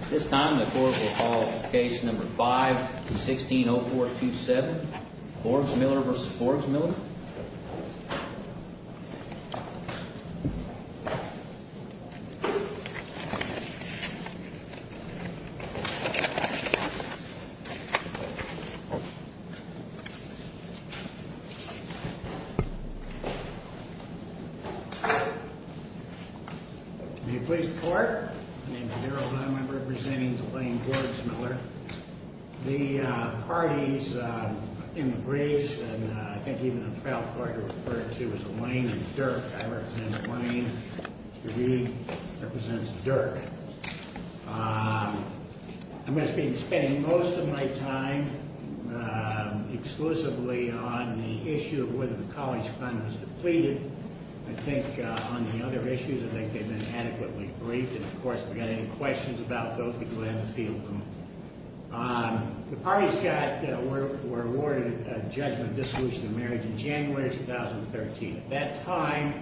At this time, the Court will call Case No. 5-160427, Borgsmiller v. Borgsmiller. Borgsmiller v. Borgsmiller May it please the Court, my name is Harold, I'm representing Elaine Borgsmiller. The parties in the briefs, and I think even the trial court referred to as Elaine and Dirk. I represent Elaine, she represents Dirk. I must be spending most of my time exclusively on the issue of whether the college fund was depleted. I think on the other issues, I think they've been adequately briefed. Of course, if we've got any questions about those, we can go ahead and field them. The parties were awarded a judgment of dissolution of marriage in January 2013. At that time,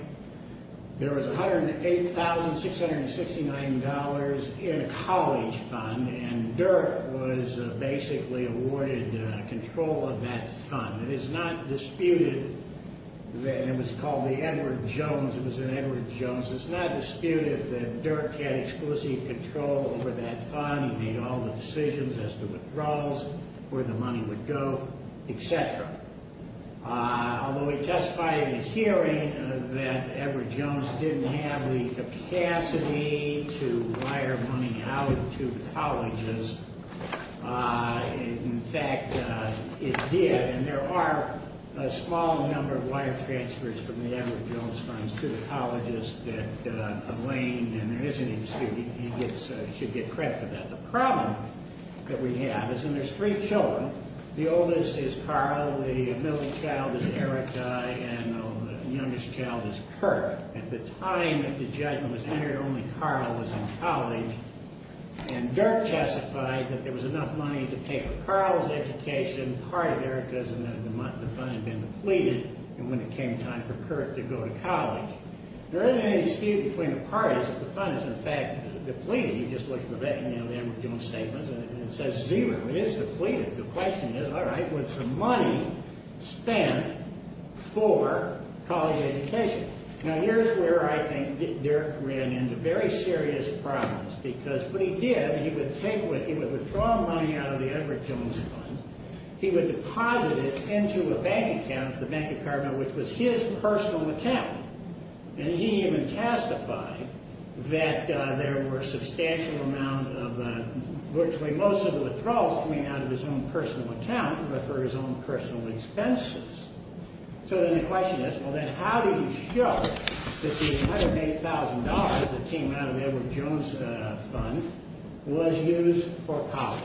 there was $108,669 in a college fund, and Dirk was basically awarded control of that fund. It is not disputed that it was called the Edward Jones, it was an Edward Jones. It's not disputed that Dirk had exclusive control over that fund. He made all the decisions as to withdrawals, where the money would go, etc. Although we testified in a hearing that Edward Jones didn't have the capacity to wire money out to colleges, in fact, it did, and there are a small number of wire transfers from the Edward Jones funds to the colleges that Elaine, and there is an excuse, he should get credit for that. The problem that we have is, and there's three children, the oldest is Carl, the middle child is Erica, and the youngest child is Kurt. At the time that the judgment was entered, only Carl was in college, and Dirk testified that there was enough money to pay for Carl's education, part of Erica's, and then the fund had been depleted, and when it came time for Kurt to go to college. There isn't any dispute between the parties that the fund is, in fact, depleted. You just look at the Edward Jones statements, and it says zero. It is depleted. The question is, all right, was the money spent for college education? Now, here's where I think Dirk ran into very serious problems, because what he did, he would withdraw money out of the Edward Jones fund, he would deposit it into a bank account, the bank department, which was his personal account, and he even testified that there were substantial amounts of virtually most of the withdrawals coming out of his own personal account, but for his own personal expenses. So then the question is, well, then, how do you show that the $108,000 that came out of the Edward Jones fund was used for college?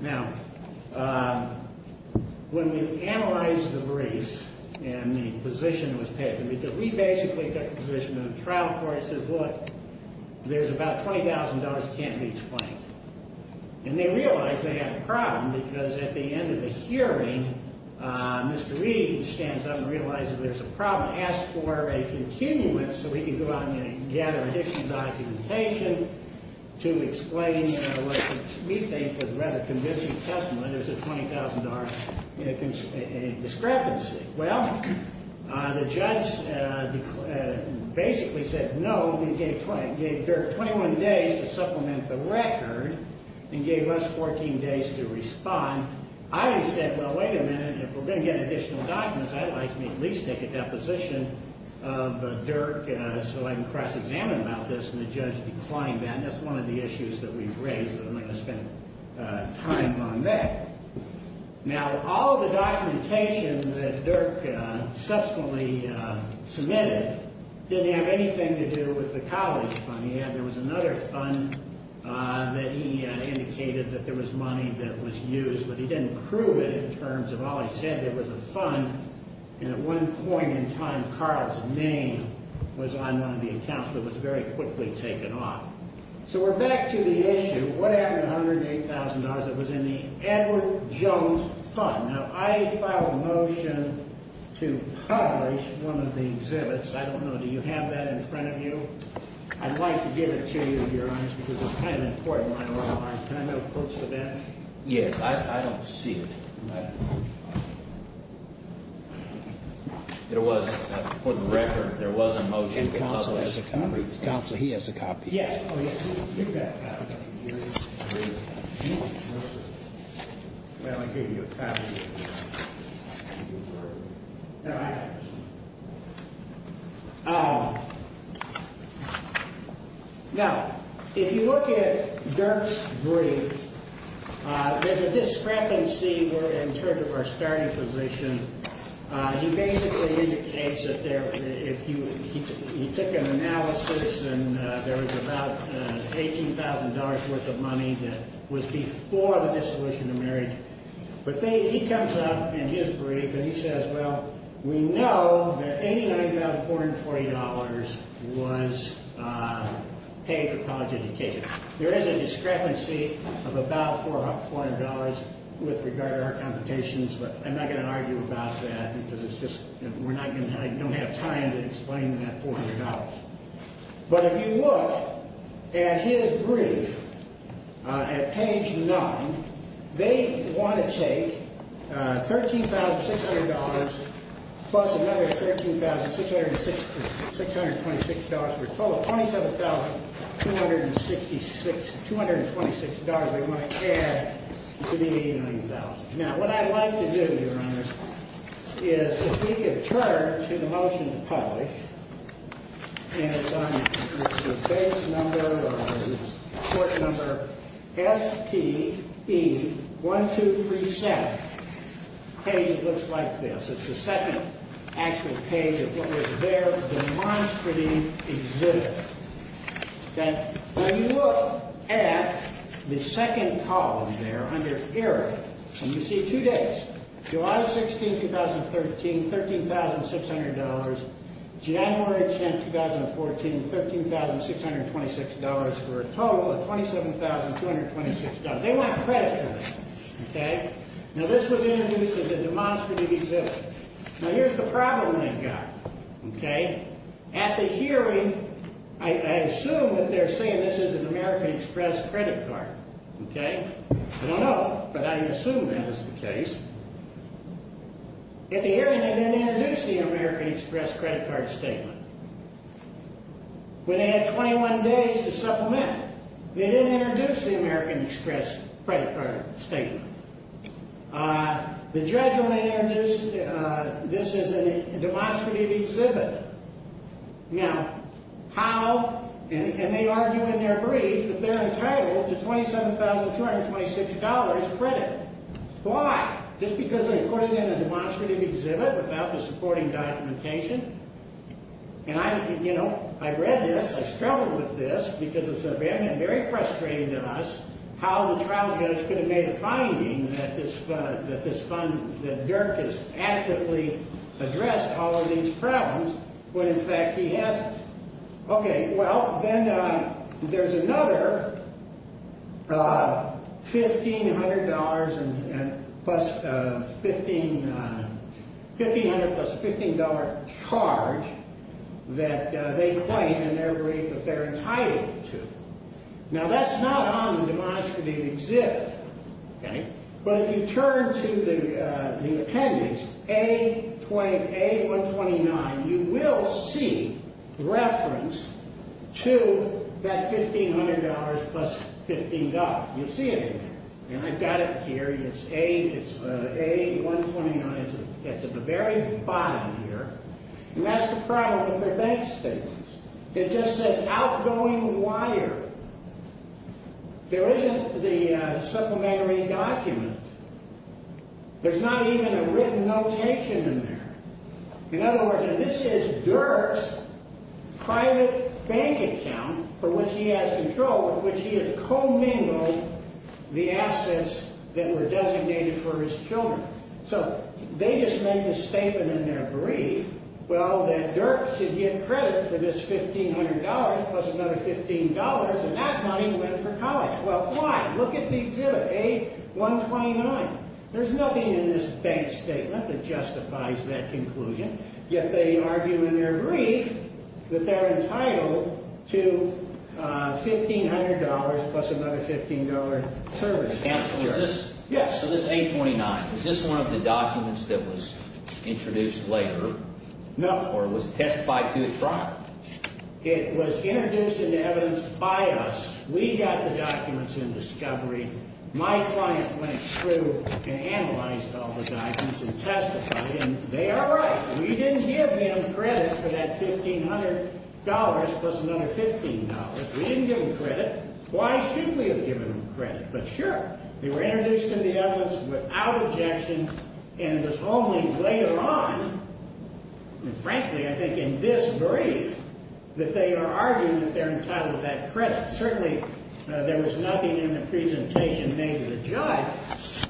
Now, when we analyzed the briefs and the position that was taken, because we basically took the position that a trial court says, look, there's about $20,000 that can't be explained, and they realized they had a problem, because at the end of the hearing, Mr. Reed stands up and realizes there's a problem, asks for a continuance so we can go out and gather additional documentation to explain what we think is a rather convincing testimony, there's a $20,000 discrepancy. Well, the judge basically said, no, we gave Dirk 21 days to supplement the record and gave us 14 days to respond. I would have said, well, wait a minute, if we're going to get additional documents, I'd like to at least make a deposition of Dirk so I can cross-examine about this, and the judge declined that, and that's one of the issues that we've raised, and I'm going to spend time on that. Now, all of the documentation that Dirk subsequently submitted didn't have anything to do with the college fund. He had, there was another fund that he indicated that there was money that was used, but he didn't prove it in terms of all he said. There was a fund, and at one point in time, Carl's name was on one of the accounts, but it was very quickly taken off. So we're back to the issue. What happened to $108,000? It was in the Edward Jones fund. Now, I filed a motion to publish one of the exhibits. I don't know, do you have that in front of you? I'd like to give it to you, to be honest, because it's kind of important. Can I have a close look at it? Yes, I don't see it. There was, for the record, there was a motion to publish. And counsel has a copy. Counsel, he has a copy. Yes, oh, yes, you've got a copy. Now, if you look at Dirk's brief, there's a discrepancy in terms of our starting position. He basically indicates that he took an analysis, and there was about $18,000 worth of money that was before the dissolution of marriage. But he comes up in his brief, and he says, well, we know that $89,440 was paid for college education. There is a discrepancy of about $400 with regard to our computations, but I'm not going to argue about that, because it's just, we're not going to have time to explain that $400. But if you look at his brief at page 9, they want to take $13,600 plus another $13,626. We're told $27,226 they want to add to the $89,000. Now, what I'd like to do, Your Honor, is if we could turn to the motion to publish, and it's on the base number or on the court number SPB1237, a page that looks like this. It's the second actual page of what was their demonstrative exhibit. Now, you look at the second column there under Error, and you see two days, July 16, 2013, $13,600. January 10, 2014, $13,626 for a total of $27,226. They want credit for that. Now, this was introduced as a demonstrative exhibit. Now, here's the problem they've got. Okay? At the hearing, I assume that they're saying this is an American Express credit card. Okay? I don't know, but I assume that is the case. At the hearing, they didn't introduce the American Express credit card statement. When they had 21 days to supplement, they didn't introduce the American Express credit card statement. The judge only introduced this as a demonstrative exhibit. Now, how? And they argue in their brief that they're entitled to $27,226 credit. Why? Just because they put it in a demonstrative exhibit without the supporting documentation? And I, you know, I read this. I struggled with this because it was very frustrating to us how the trial judge could have made a finding that this fund, that Dirk has actively addressed all of these problems when, in fact, he hasn't. Okay, well, then there's another $1,500 plus $15 charge that they claim in their brief that they're entitled to. Now, that's not on the demonstrative exhibit, okay? But if you turn to the appendix, A129, you will see reference to that $1,500 plus $15. You'll see it in there. And I've got it here. It's A129. It's at the very bottom here. And that's the problem with their bank statements. It just says outgoing wire. There isn't the supplementary document. There's not even a written notation in there. In other words, this is Dirk's private bank account for which he has control, with which he has commingled the assets that were designated for his children. So they just make this statement in their brief, well, that Dirk should get credit for this $1,500 plus another $15, and that money went for college. Well, why? Look at the exhibit, A129. There's nothing in this bank statement that justifies that conclusion, yet they argue in their brief that they're entitled to $1,500 plus another $15 service. Counsel, is this? Yes. So this A29, is this one of the documents that was introduced later or was testified to at trial? It was introduced into evidence by us. We got the documents in discovery. My client went through and analyzed all the documents and testified, and they are right. We didn't give them credit for that $1,500 plus another $15. We didn't give them credit. Why shouldn't we have given them credit? But sure, they were introduced into evidence without objection, and it was only later on, and frankly, I think in this brief, that they are arguing that they're entitled to that credit. Certainly, there was nothing in the presentation made to the judge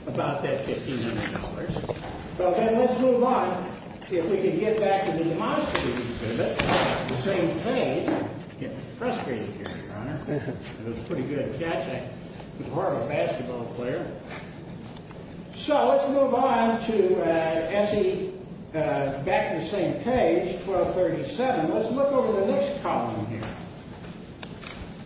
about that $1,500. Well, then, let's move on. If we could get back to the demonstration exhibit, the same thing. I'm getting frustrated here, Your Honor. It was a pretty good catch. I'm a horrible basketball player. So let's move on to S.E., back to the same page, 1237. Let's look over the next column here.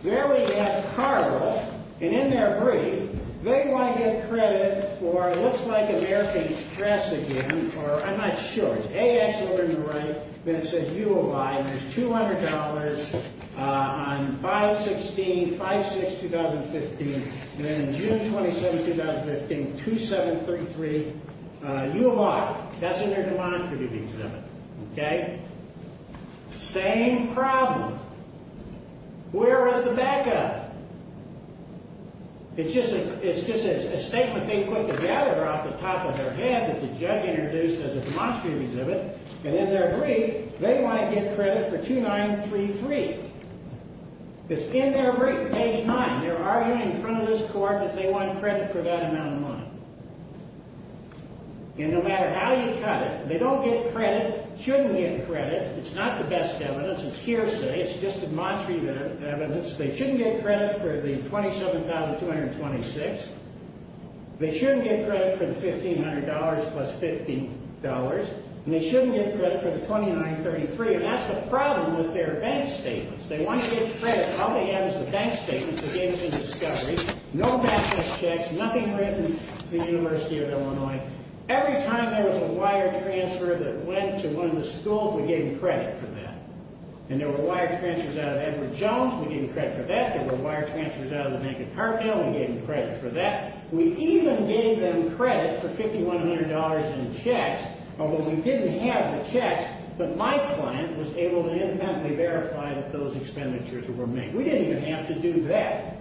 There we have Carville, and in their brief, they want to get credit for, looks like American Express again, or I'm not sure, it's AX over to the right, then it says U of I, and there's $200 on 5-16, 5-6, 2015, and then June 27, 2015, 2733, U of I. That's in their demonstration exhibit, okay? Same problem. Where is the backup? It's just a statement they put together off the top of their head that the judge introduced as a demonstration exhibit, and in their brief, they want to get credit for 2933. It's in their written page 9. They're arguing in front of this court that they want credit for that amount of money. And no matter how you cut it, they don't get credit, shouldn't get credit. It's not the best evidence. It's hearsay. It's just demonstrative evidence. They shouldn't get credit for the $27,226. They shouldn't get credit for the $1,500 plus $50, and they shouldn't get credit for the 2933, and that's the problem with their bank statements. They want to get credit. All they have is the bank statements. They gave them in discovery. No massive checks, nothing written to the University of Illinois. Every time there was a wire transfer that went to one of the schools, we gave them credit for that, and there were wire transfers out of Edward Jones. We gave them credit for that. There were wire transfers out of the Bank of Carville. We gave them credit for that. We even gave them credit for $5,100 in checks, although we didn't have the checks, but my client was able to independently verify that those expenditures were made. We didn't even have to do that,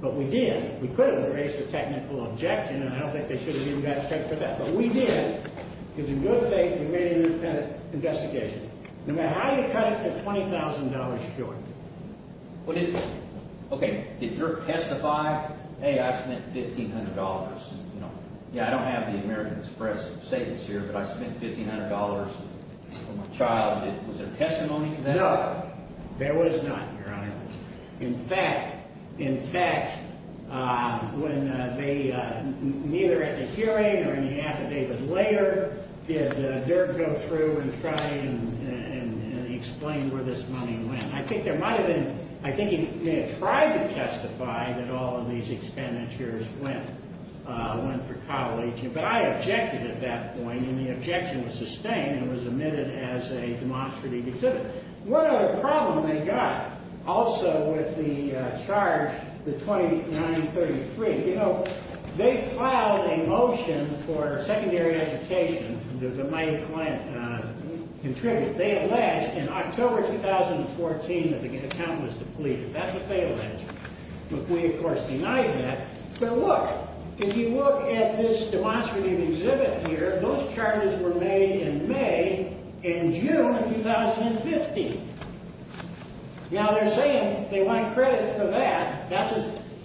but we did. We could have erased the technical objection, and I don't think they should have given us checks for that, but we did because, in good faith, we made an independent investigation. No matter how you cut it, they're $20,000 short. Okay, did Dirk testify? Hey, I spent $1,500. Yeah, I don't have the American Express statements here, but I spent $1,500 for my child. Was there testimony to that? No, there was not, Your Honor. In fact, when they, either at the hearing or in the affidavit later, did Dirk go through and try and explain where this money went? I think he may have tried to testify that all of these expenditures went for college, but I objected at that point, and the objection was sustained and was admitted as a demonstrative exhibit. One other problem they got, also, with the charge, the 2933, they filed a motion for secondary education that my client contributed. They alleged in October 2014 that the account was depleted. That's a false allegation. McQuee, of course, denied that. But look, if you look at this demonstrative exhibit here, those charges were made in May and June of 2015. Now, they're saying they want credit for that,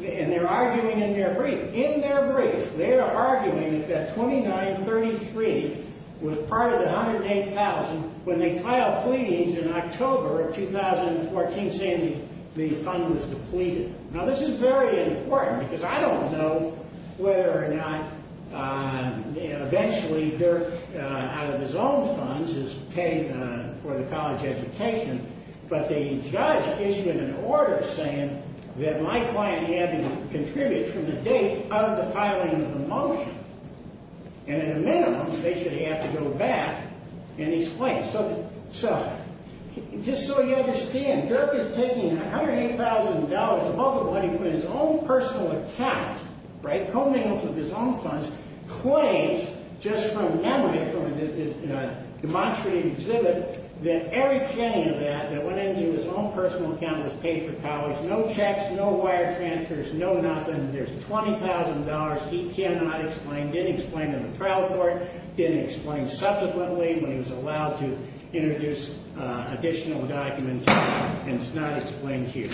and they're arguing in their brief. They're arguing that 2933 was part of the 108,000 when they filed pleadings in October of 2014, saying the fund was depleted. Now, this is very important because I don't know whether or not, eventually, Dirk, out of his own funds, has paid for the college education, but the judge issued an order saying that my client had to contribute from the date of the filing of the motion, and at a minimum, they should have to go back in his place. So just so you understand, Dirk is taking $108,000 above the money from his own personal account, right, coming off of his own funds, claims just from memory from a demonstrative exhibit, then every penny of that that went into his own personal account was paid for college. So no checks, no wire transfers, no nothing. There's $20,000 he cannot explain, didn't explain in the trial court, didn't explain subsequently when he was allowed to introduce additional documents, and it's not explained here.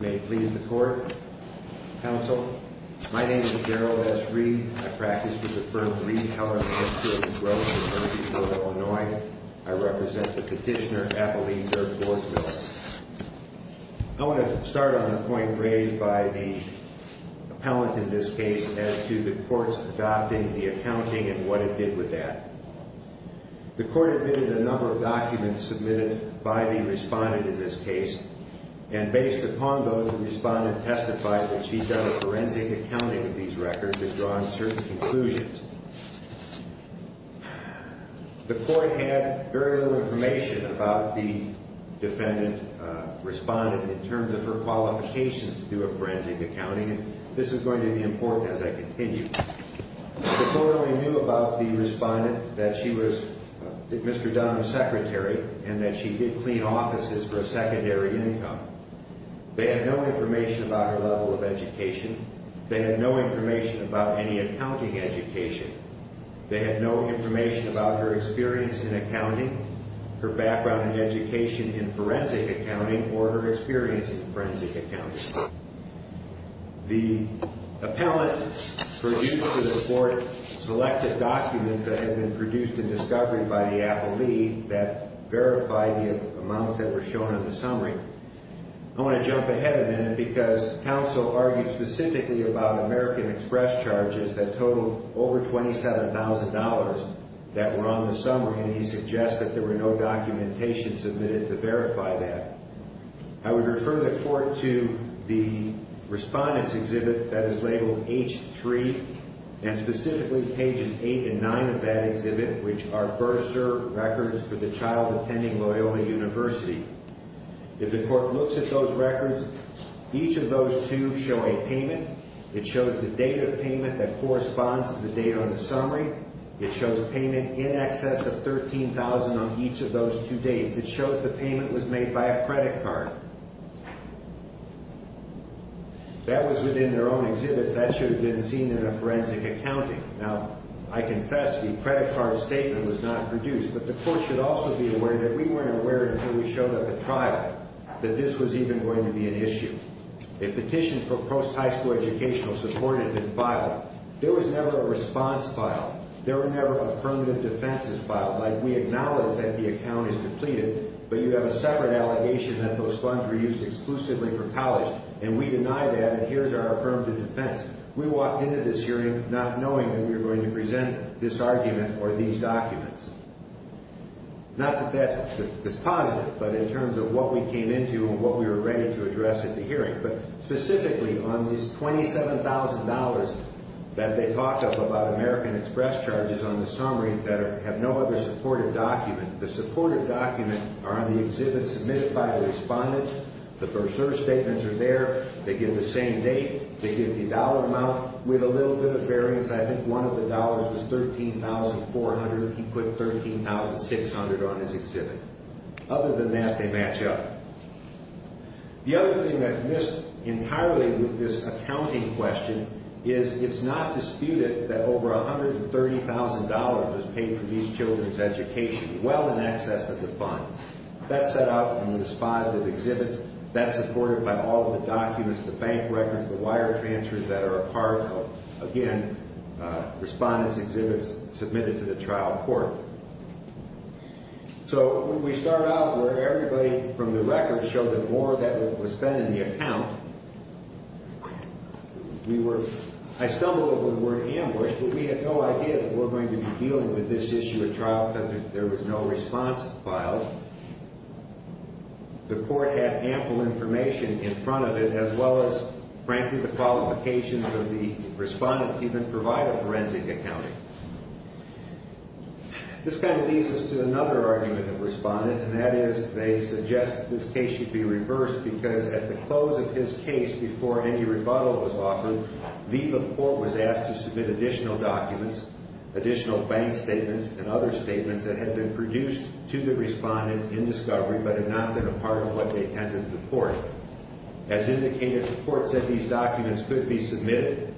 May it please the court, counsel. My name is Darryl S. Reed. I practice with the firm Reed Heller, and I have two other brothers who are here in Illinois. I represent the petitioner, Abilene Dirk Gordsmill. I want to start on the point raised by the appellant in this case as to the court's adopting the accounting and what it did with that. The court admitted a number of documents submitted by the respondent in this case and based upon those, the respondent testified that she'd done a forensic accounting of these records and drawn certain conclusions. The court had very little information about the defendant respondent in terms of her qualifications to do a forensic accounting, and this is going to be important as I continue. The court only knew about the respondent that she was Mr. Donnell's secretary and that she did clean offices for a secondary income. They had no information about her level of education. They had no information about any accounting education. They had no information about her experience in accounting, her background in education in forensic accounting, or her experience in forensic accounting. The appellant produced to the court selected documents that had been produced in discovery by the appellee that verified the amounts that were shown on the summary. I want to jump ahead a minute because counsel argued specifically about American Express charges that totaled over $27,000 that were on the summary, and he suggested there were no documentation submitted to verify that. I would refer the court to the respondent's exhibit that is labeled H3 and specifically pages 8 and 9 of that exhibit, which are bursar records for the child attending Loyola University. If the court looks at those records, each of those two show a payment. It shows the date of payment that corresponds to the date on the summary. It shows payment in excess of $13,000 on each of those two dates. It shows the payment was made by a credit card. That was within their own exhibits. That should have been seen in a forensic accounting. Now, I confess the credit card statement was not produced, but the court should also be aware that we weren't aware until we showed up at trial that this was even going to be an issue. A petition for post-high school educational support had been filed. There was never a response filed. There were never affirmative defenses filed, like we acknowledge that the account is completed, but you have a separate allegation that those funds were used exclusively for college, and we deny that, and here's our affirmative defense. We walked into this hearing not knowing that we were going to present this argument or these documents. Not that that's positive, but in terms of what we came into and what we were ready to address at the hearing, but specifically on these $27,000 that they talked about American Express charges on the summary that have no other supported document. The supported documents are on the exhibit submitted by the respondent. The bursar statements are there. They give the same date. They give the dollar amount with a little bit of variance. I think one of the dollars was $13,400. He put $13,600 on his exhibit. Other than that, they match up. The other thing that's missed entirely with this accounting question is it's not disputed that over $130,000 was paid for these children's education, well in excess of the fund. That's set out in this file of exhibits. That's supported by all the documents, the bank records, the wire transfers that are a part of, again, respondents' exhibits submitted to the trial court. So we start out where everybody from the records showed that more of that was spent in the account. I stumbled over the word ambush, but we had no idea that we were going to be dealing with this issue at trial because there was no response file. The court had ample information in front of it as well as, frankly, the qualifications of the respondent to even provide a forensic accounting. This kind of leads us to another argument of respondent, and that is they suggest that this case should be reversed because at the close of his case, before any rebuttal was offered, the court was asked to submit additional documents, additional bank statements, and other statements that had been produced to the respondent in discovery but had not been a part of what they handed to the court. As indicated, the court said these documents could be submitted.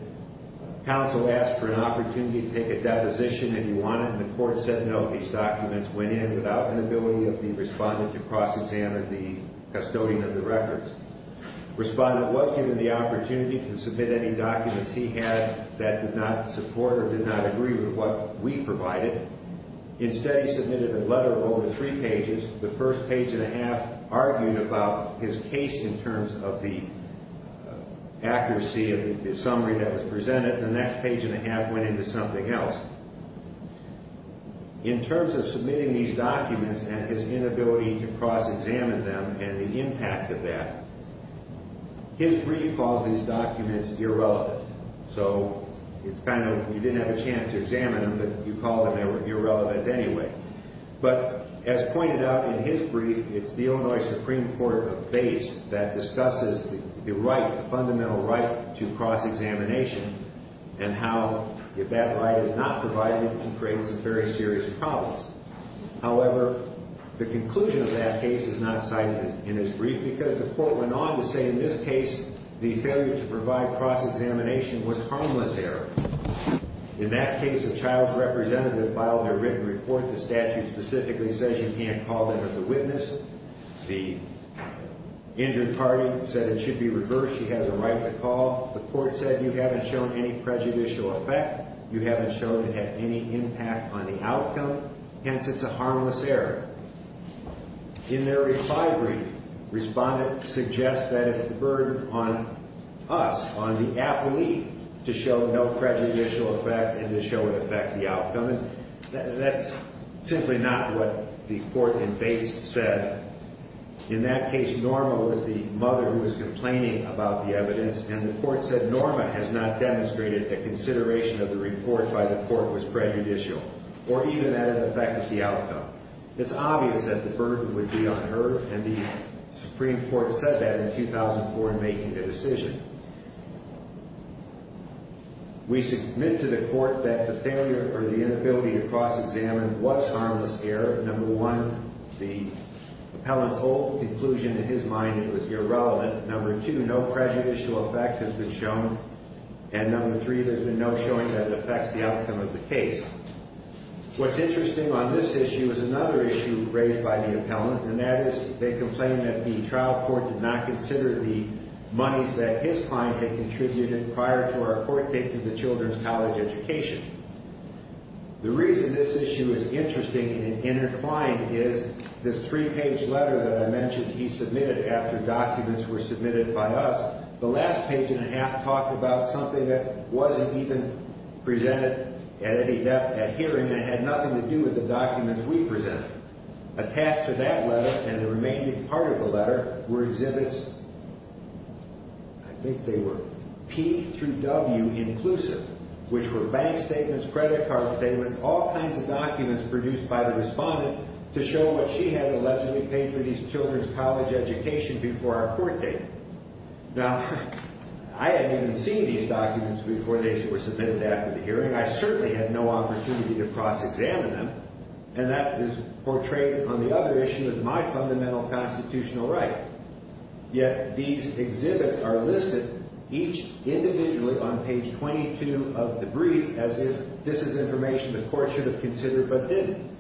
Counsel asked for an opportunity to take a deposition if you wanted, and the court said no. These documents went in without the ability of the respondent to cross-examine the custodian of the records. Respondent was given the opportunity to submit any documents he had that did not support or did not agree with what we provided. Instead, he submitted a letter of over three pages. The first page and a half argued about his case in terms of the accuracy of the summary that was presented, and the next page and a half went into something else. In terms of submitting these documents and his inability to cross-examine them and the impact of that, his brief calls these documents irrelevant. So it's kind of you didn't have a chance to examine them, but you called them irrelevant anyway. But as pointed out in his brief, it's the Illinois Supreme Court base that discusses the right, the fundamental right to cross-examination and how if that right is not provided, it creates some very serious problems. However, the conclusion of that case is not cited in his brief because the court went on to say in this case the failure to provide cross-examination was harmless error. In that case, a child's representative filed their written report. The statute specifically says you can't call them as a witness. The injured party said it should be reversed. She has a right to call. The court said you haven't shown any prejudicial effect. You haven't shown to have any impact on the outcome. Hence, it's a harmless error. In their reply brief, respondents suggest that it's a burden on us, on the appellee, to show no prejudicial effect and to show an effect to the outcome. That's simply not what the court in Bates said. In that case, Norma was the mother who was complaining about the evidence, and the court said Norma has not demonstrated a consideration of the report by the court was prejudicial or even had an effect on the outcome. It's obvious that the burden would be on her, and the Supreme Court said that in 2004 in making the decision. We submit to the court that the failure or the inability to cross-examine was harmless error. Number one, the appellant's whole conclusion in his mind was irrelevant. Number two, no prejudicial effect has been shown. And number three, there's been no showing that it affects the outcome of the case. What's interesting on this issue is another issue raised by the appellant, and that is they complain that the trial court did not consider the monies that his client had contributed prior to our court date to the children's college education. The reason this issue is interesting and intertwined is this three-page letter that I mentioned he submitted after documents were submitted by us, the last page and a half talked about something that wasn't even presented at any hearing and had nothing to do with the documents we presented. Attached to that letter and the remaining part of the letter were exhibits, I think they were P through W inclusive, which were bank statements, credit card statements, all kinds of documents produced by the respondent to show what she had allegedly paid for these children's college education before our court date. Now, I hadn't even seen these documents before they were submitted after the hearing. I certainly had no opportunity to cross-examine them, and that is portrayed on the other issue as my fundamental constitutional right. Yet these exhibits are listed each individually on page 22 of the brief as if this is information the court should have considered but didn't.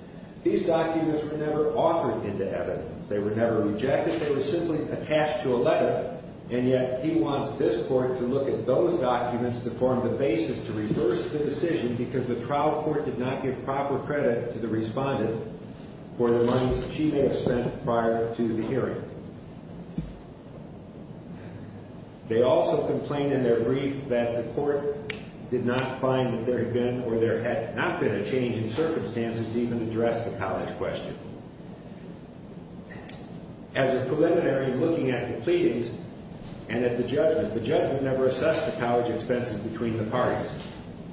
These documents were never authored into evidence. They were never rejected. They were simply attached to a letter, and yet he wants this court to look at those documents to form the basis to reverse the decision because the trial court did not give proper credit to the respondent for the money she may have spent prior to the hearing. They also complained in their brief that the court did not find that there had been or there had not been a change in circumstances to even address the college question. As a preliminary looking at the pleadings and at the judgment, the judgment never assessed the college expenses between the parties.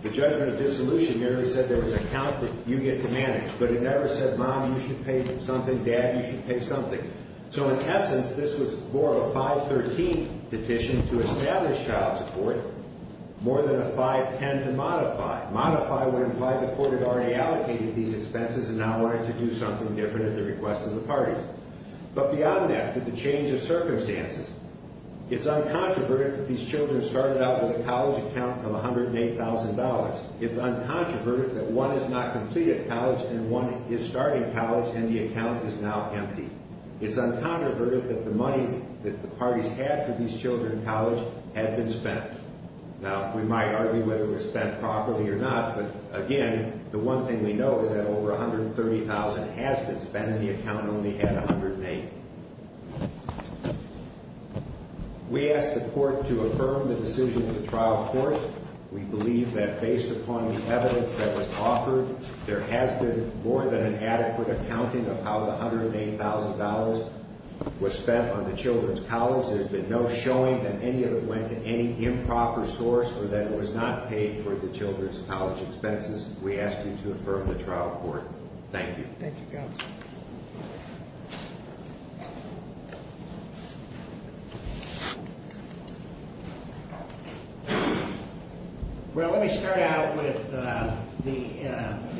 The judgment of dissolution never said there was an account that you get to manage, but it never said, Mom, you should pay something. Dad, you should pay something. So in essence, this was more of a 513 petition to establish child support, more than a 510 to modify. Modify would imply the court had already allocated these expenses and now wanted to do something different at the request of the parties. But beyond that, to the change of circumstances, it's uncontroverted that these children started out with a college account of $108,000. It's uncontroverted that one has not completed college and one is starting college and the account is now empty. It's uncontroverted that the money that the parties had for these children in college had been spent. Now, we might argue whether it was spent properly or not, but again, the one thing we know is that over $130,000 has been spent and the account only had $108,000. Thank you. We ask the court to affirm the decision of the trial court. We believe that based upon the evidence that was offered, there has been more than an adequate accounting of how the $108,000 was spent on the children's college. There's been no showing that any of it went to any improper source or that it was not paid for the children's college expenses. We ask you to affirm the trial court. Thank you. Thank you, counsel. Well, let me start out with the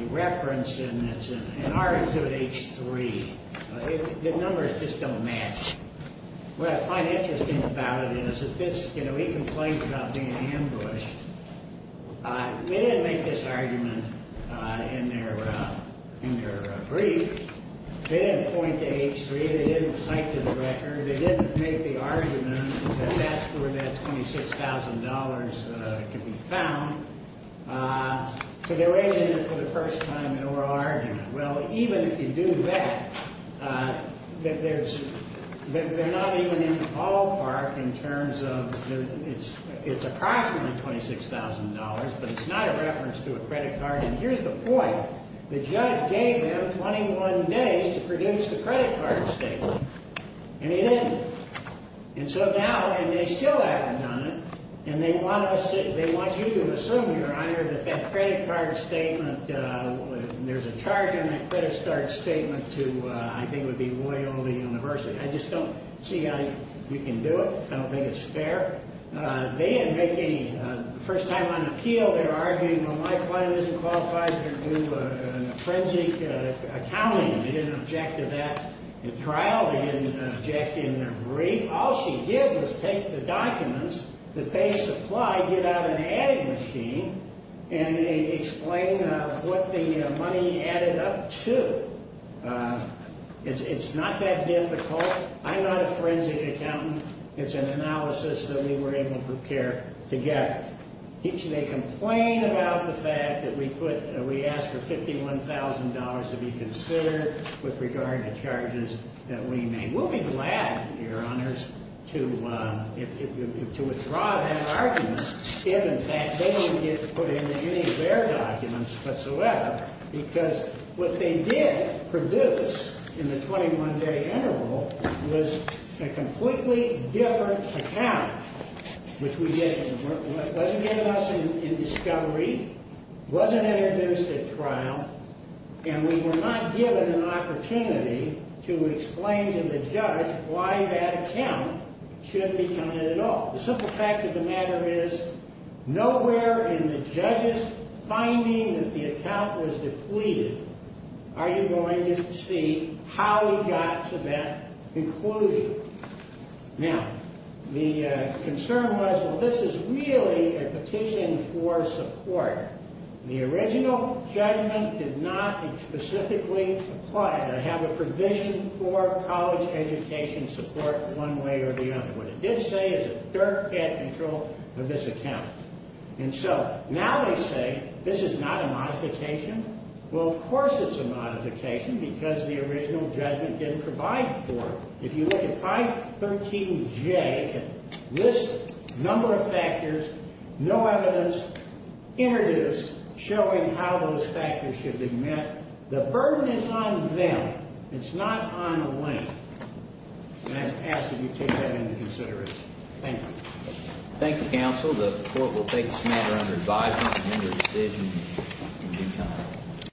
reference, and it's in Articulate H3. The numbers just don't match. What I find interesting about it is that this, you know, he complains about being ambushed. They didn't make this argument in their brief. They didn't point to H3. They didn't cite to the record. They didn't make the argument that that's where that $26,000 can be found. So they're waiting for the first time in oral argument. Well, even if you do that, that they're not even in the ballpark in terms of it's approximately $26,000, but it's not a reference to a credit card. And here's the point. The judge gave him 21 days to produce the credit card statement, and he didn't. And so now they still haven't done it, and they want you to assume, Your Honor, that that credit card statement, there's a charge in that credit card statement to I think it would be Loyola University. I just don't see how you can do it. I don't think it's fair. They didn't make any first time on appeal. They're arguing, Well, my client isn't qualified to do an forensic accounting. They didn't object to that in trial. They didn't object in their brief. All she did was take the documents that they supplied, get out an adding machine, and explain what the money added up to. It's not that difficult. I'm not a forensic accountant. It's an analysis that we were able to get. They complain about the fact that we asked for $51,000 to be considered with regard to charges that we made. We'll be glad, Your Honors, to withdraw that argument if in fact they don't get put into any of their documents whatsoever because what they did produce in the 21-day interval was a completely different account, which we didn't. It wasn't given us in discovery, wasn't introduced at trial, and we were not given an opportunity to explain to the judge why that account should be counted at all. The simple fact of the matter is, nowhere in the judge's finding that the account was depleted are you going to see how he got to that conclusion. Now, the concern was, well, this is really a petition for support. The original judgment did not specifically apply. I have a provision for college education support one way or the other. What it did say is that Dirk had control of this account. And so now they say this is not a modification. Well, of course it's a modification because the original judgment didn't provide for it. If you look at 513J, it lists a number of factors, no evidence introduced showing how those factors should be met. The burden is on them. It's not on Wayne. And I ask that you take that into consideration. Thank you. Thank you, counsel. The court will take this matter under advisement and render a decision in due time.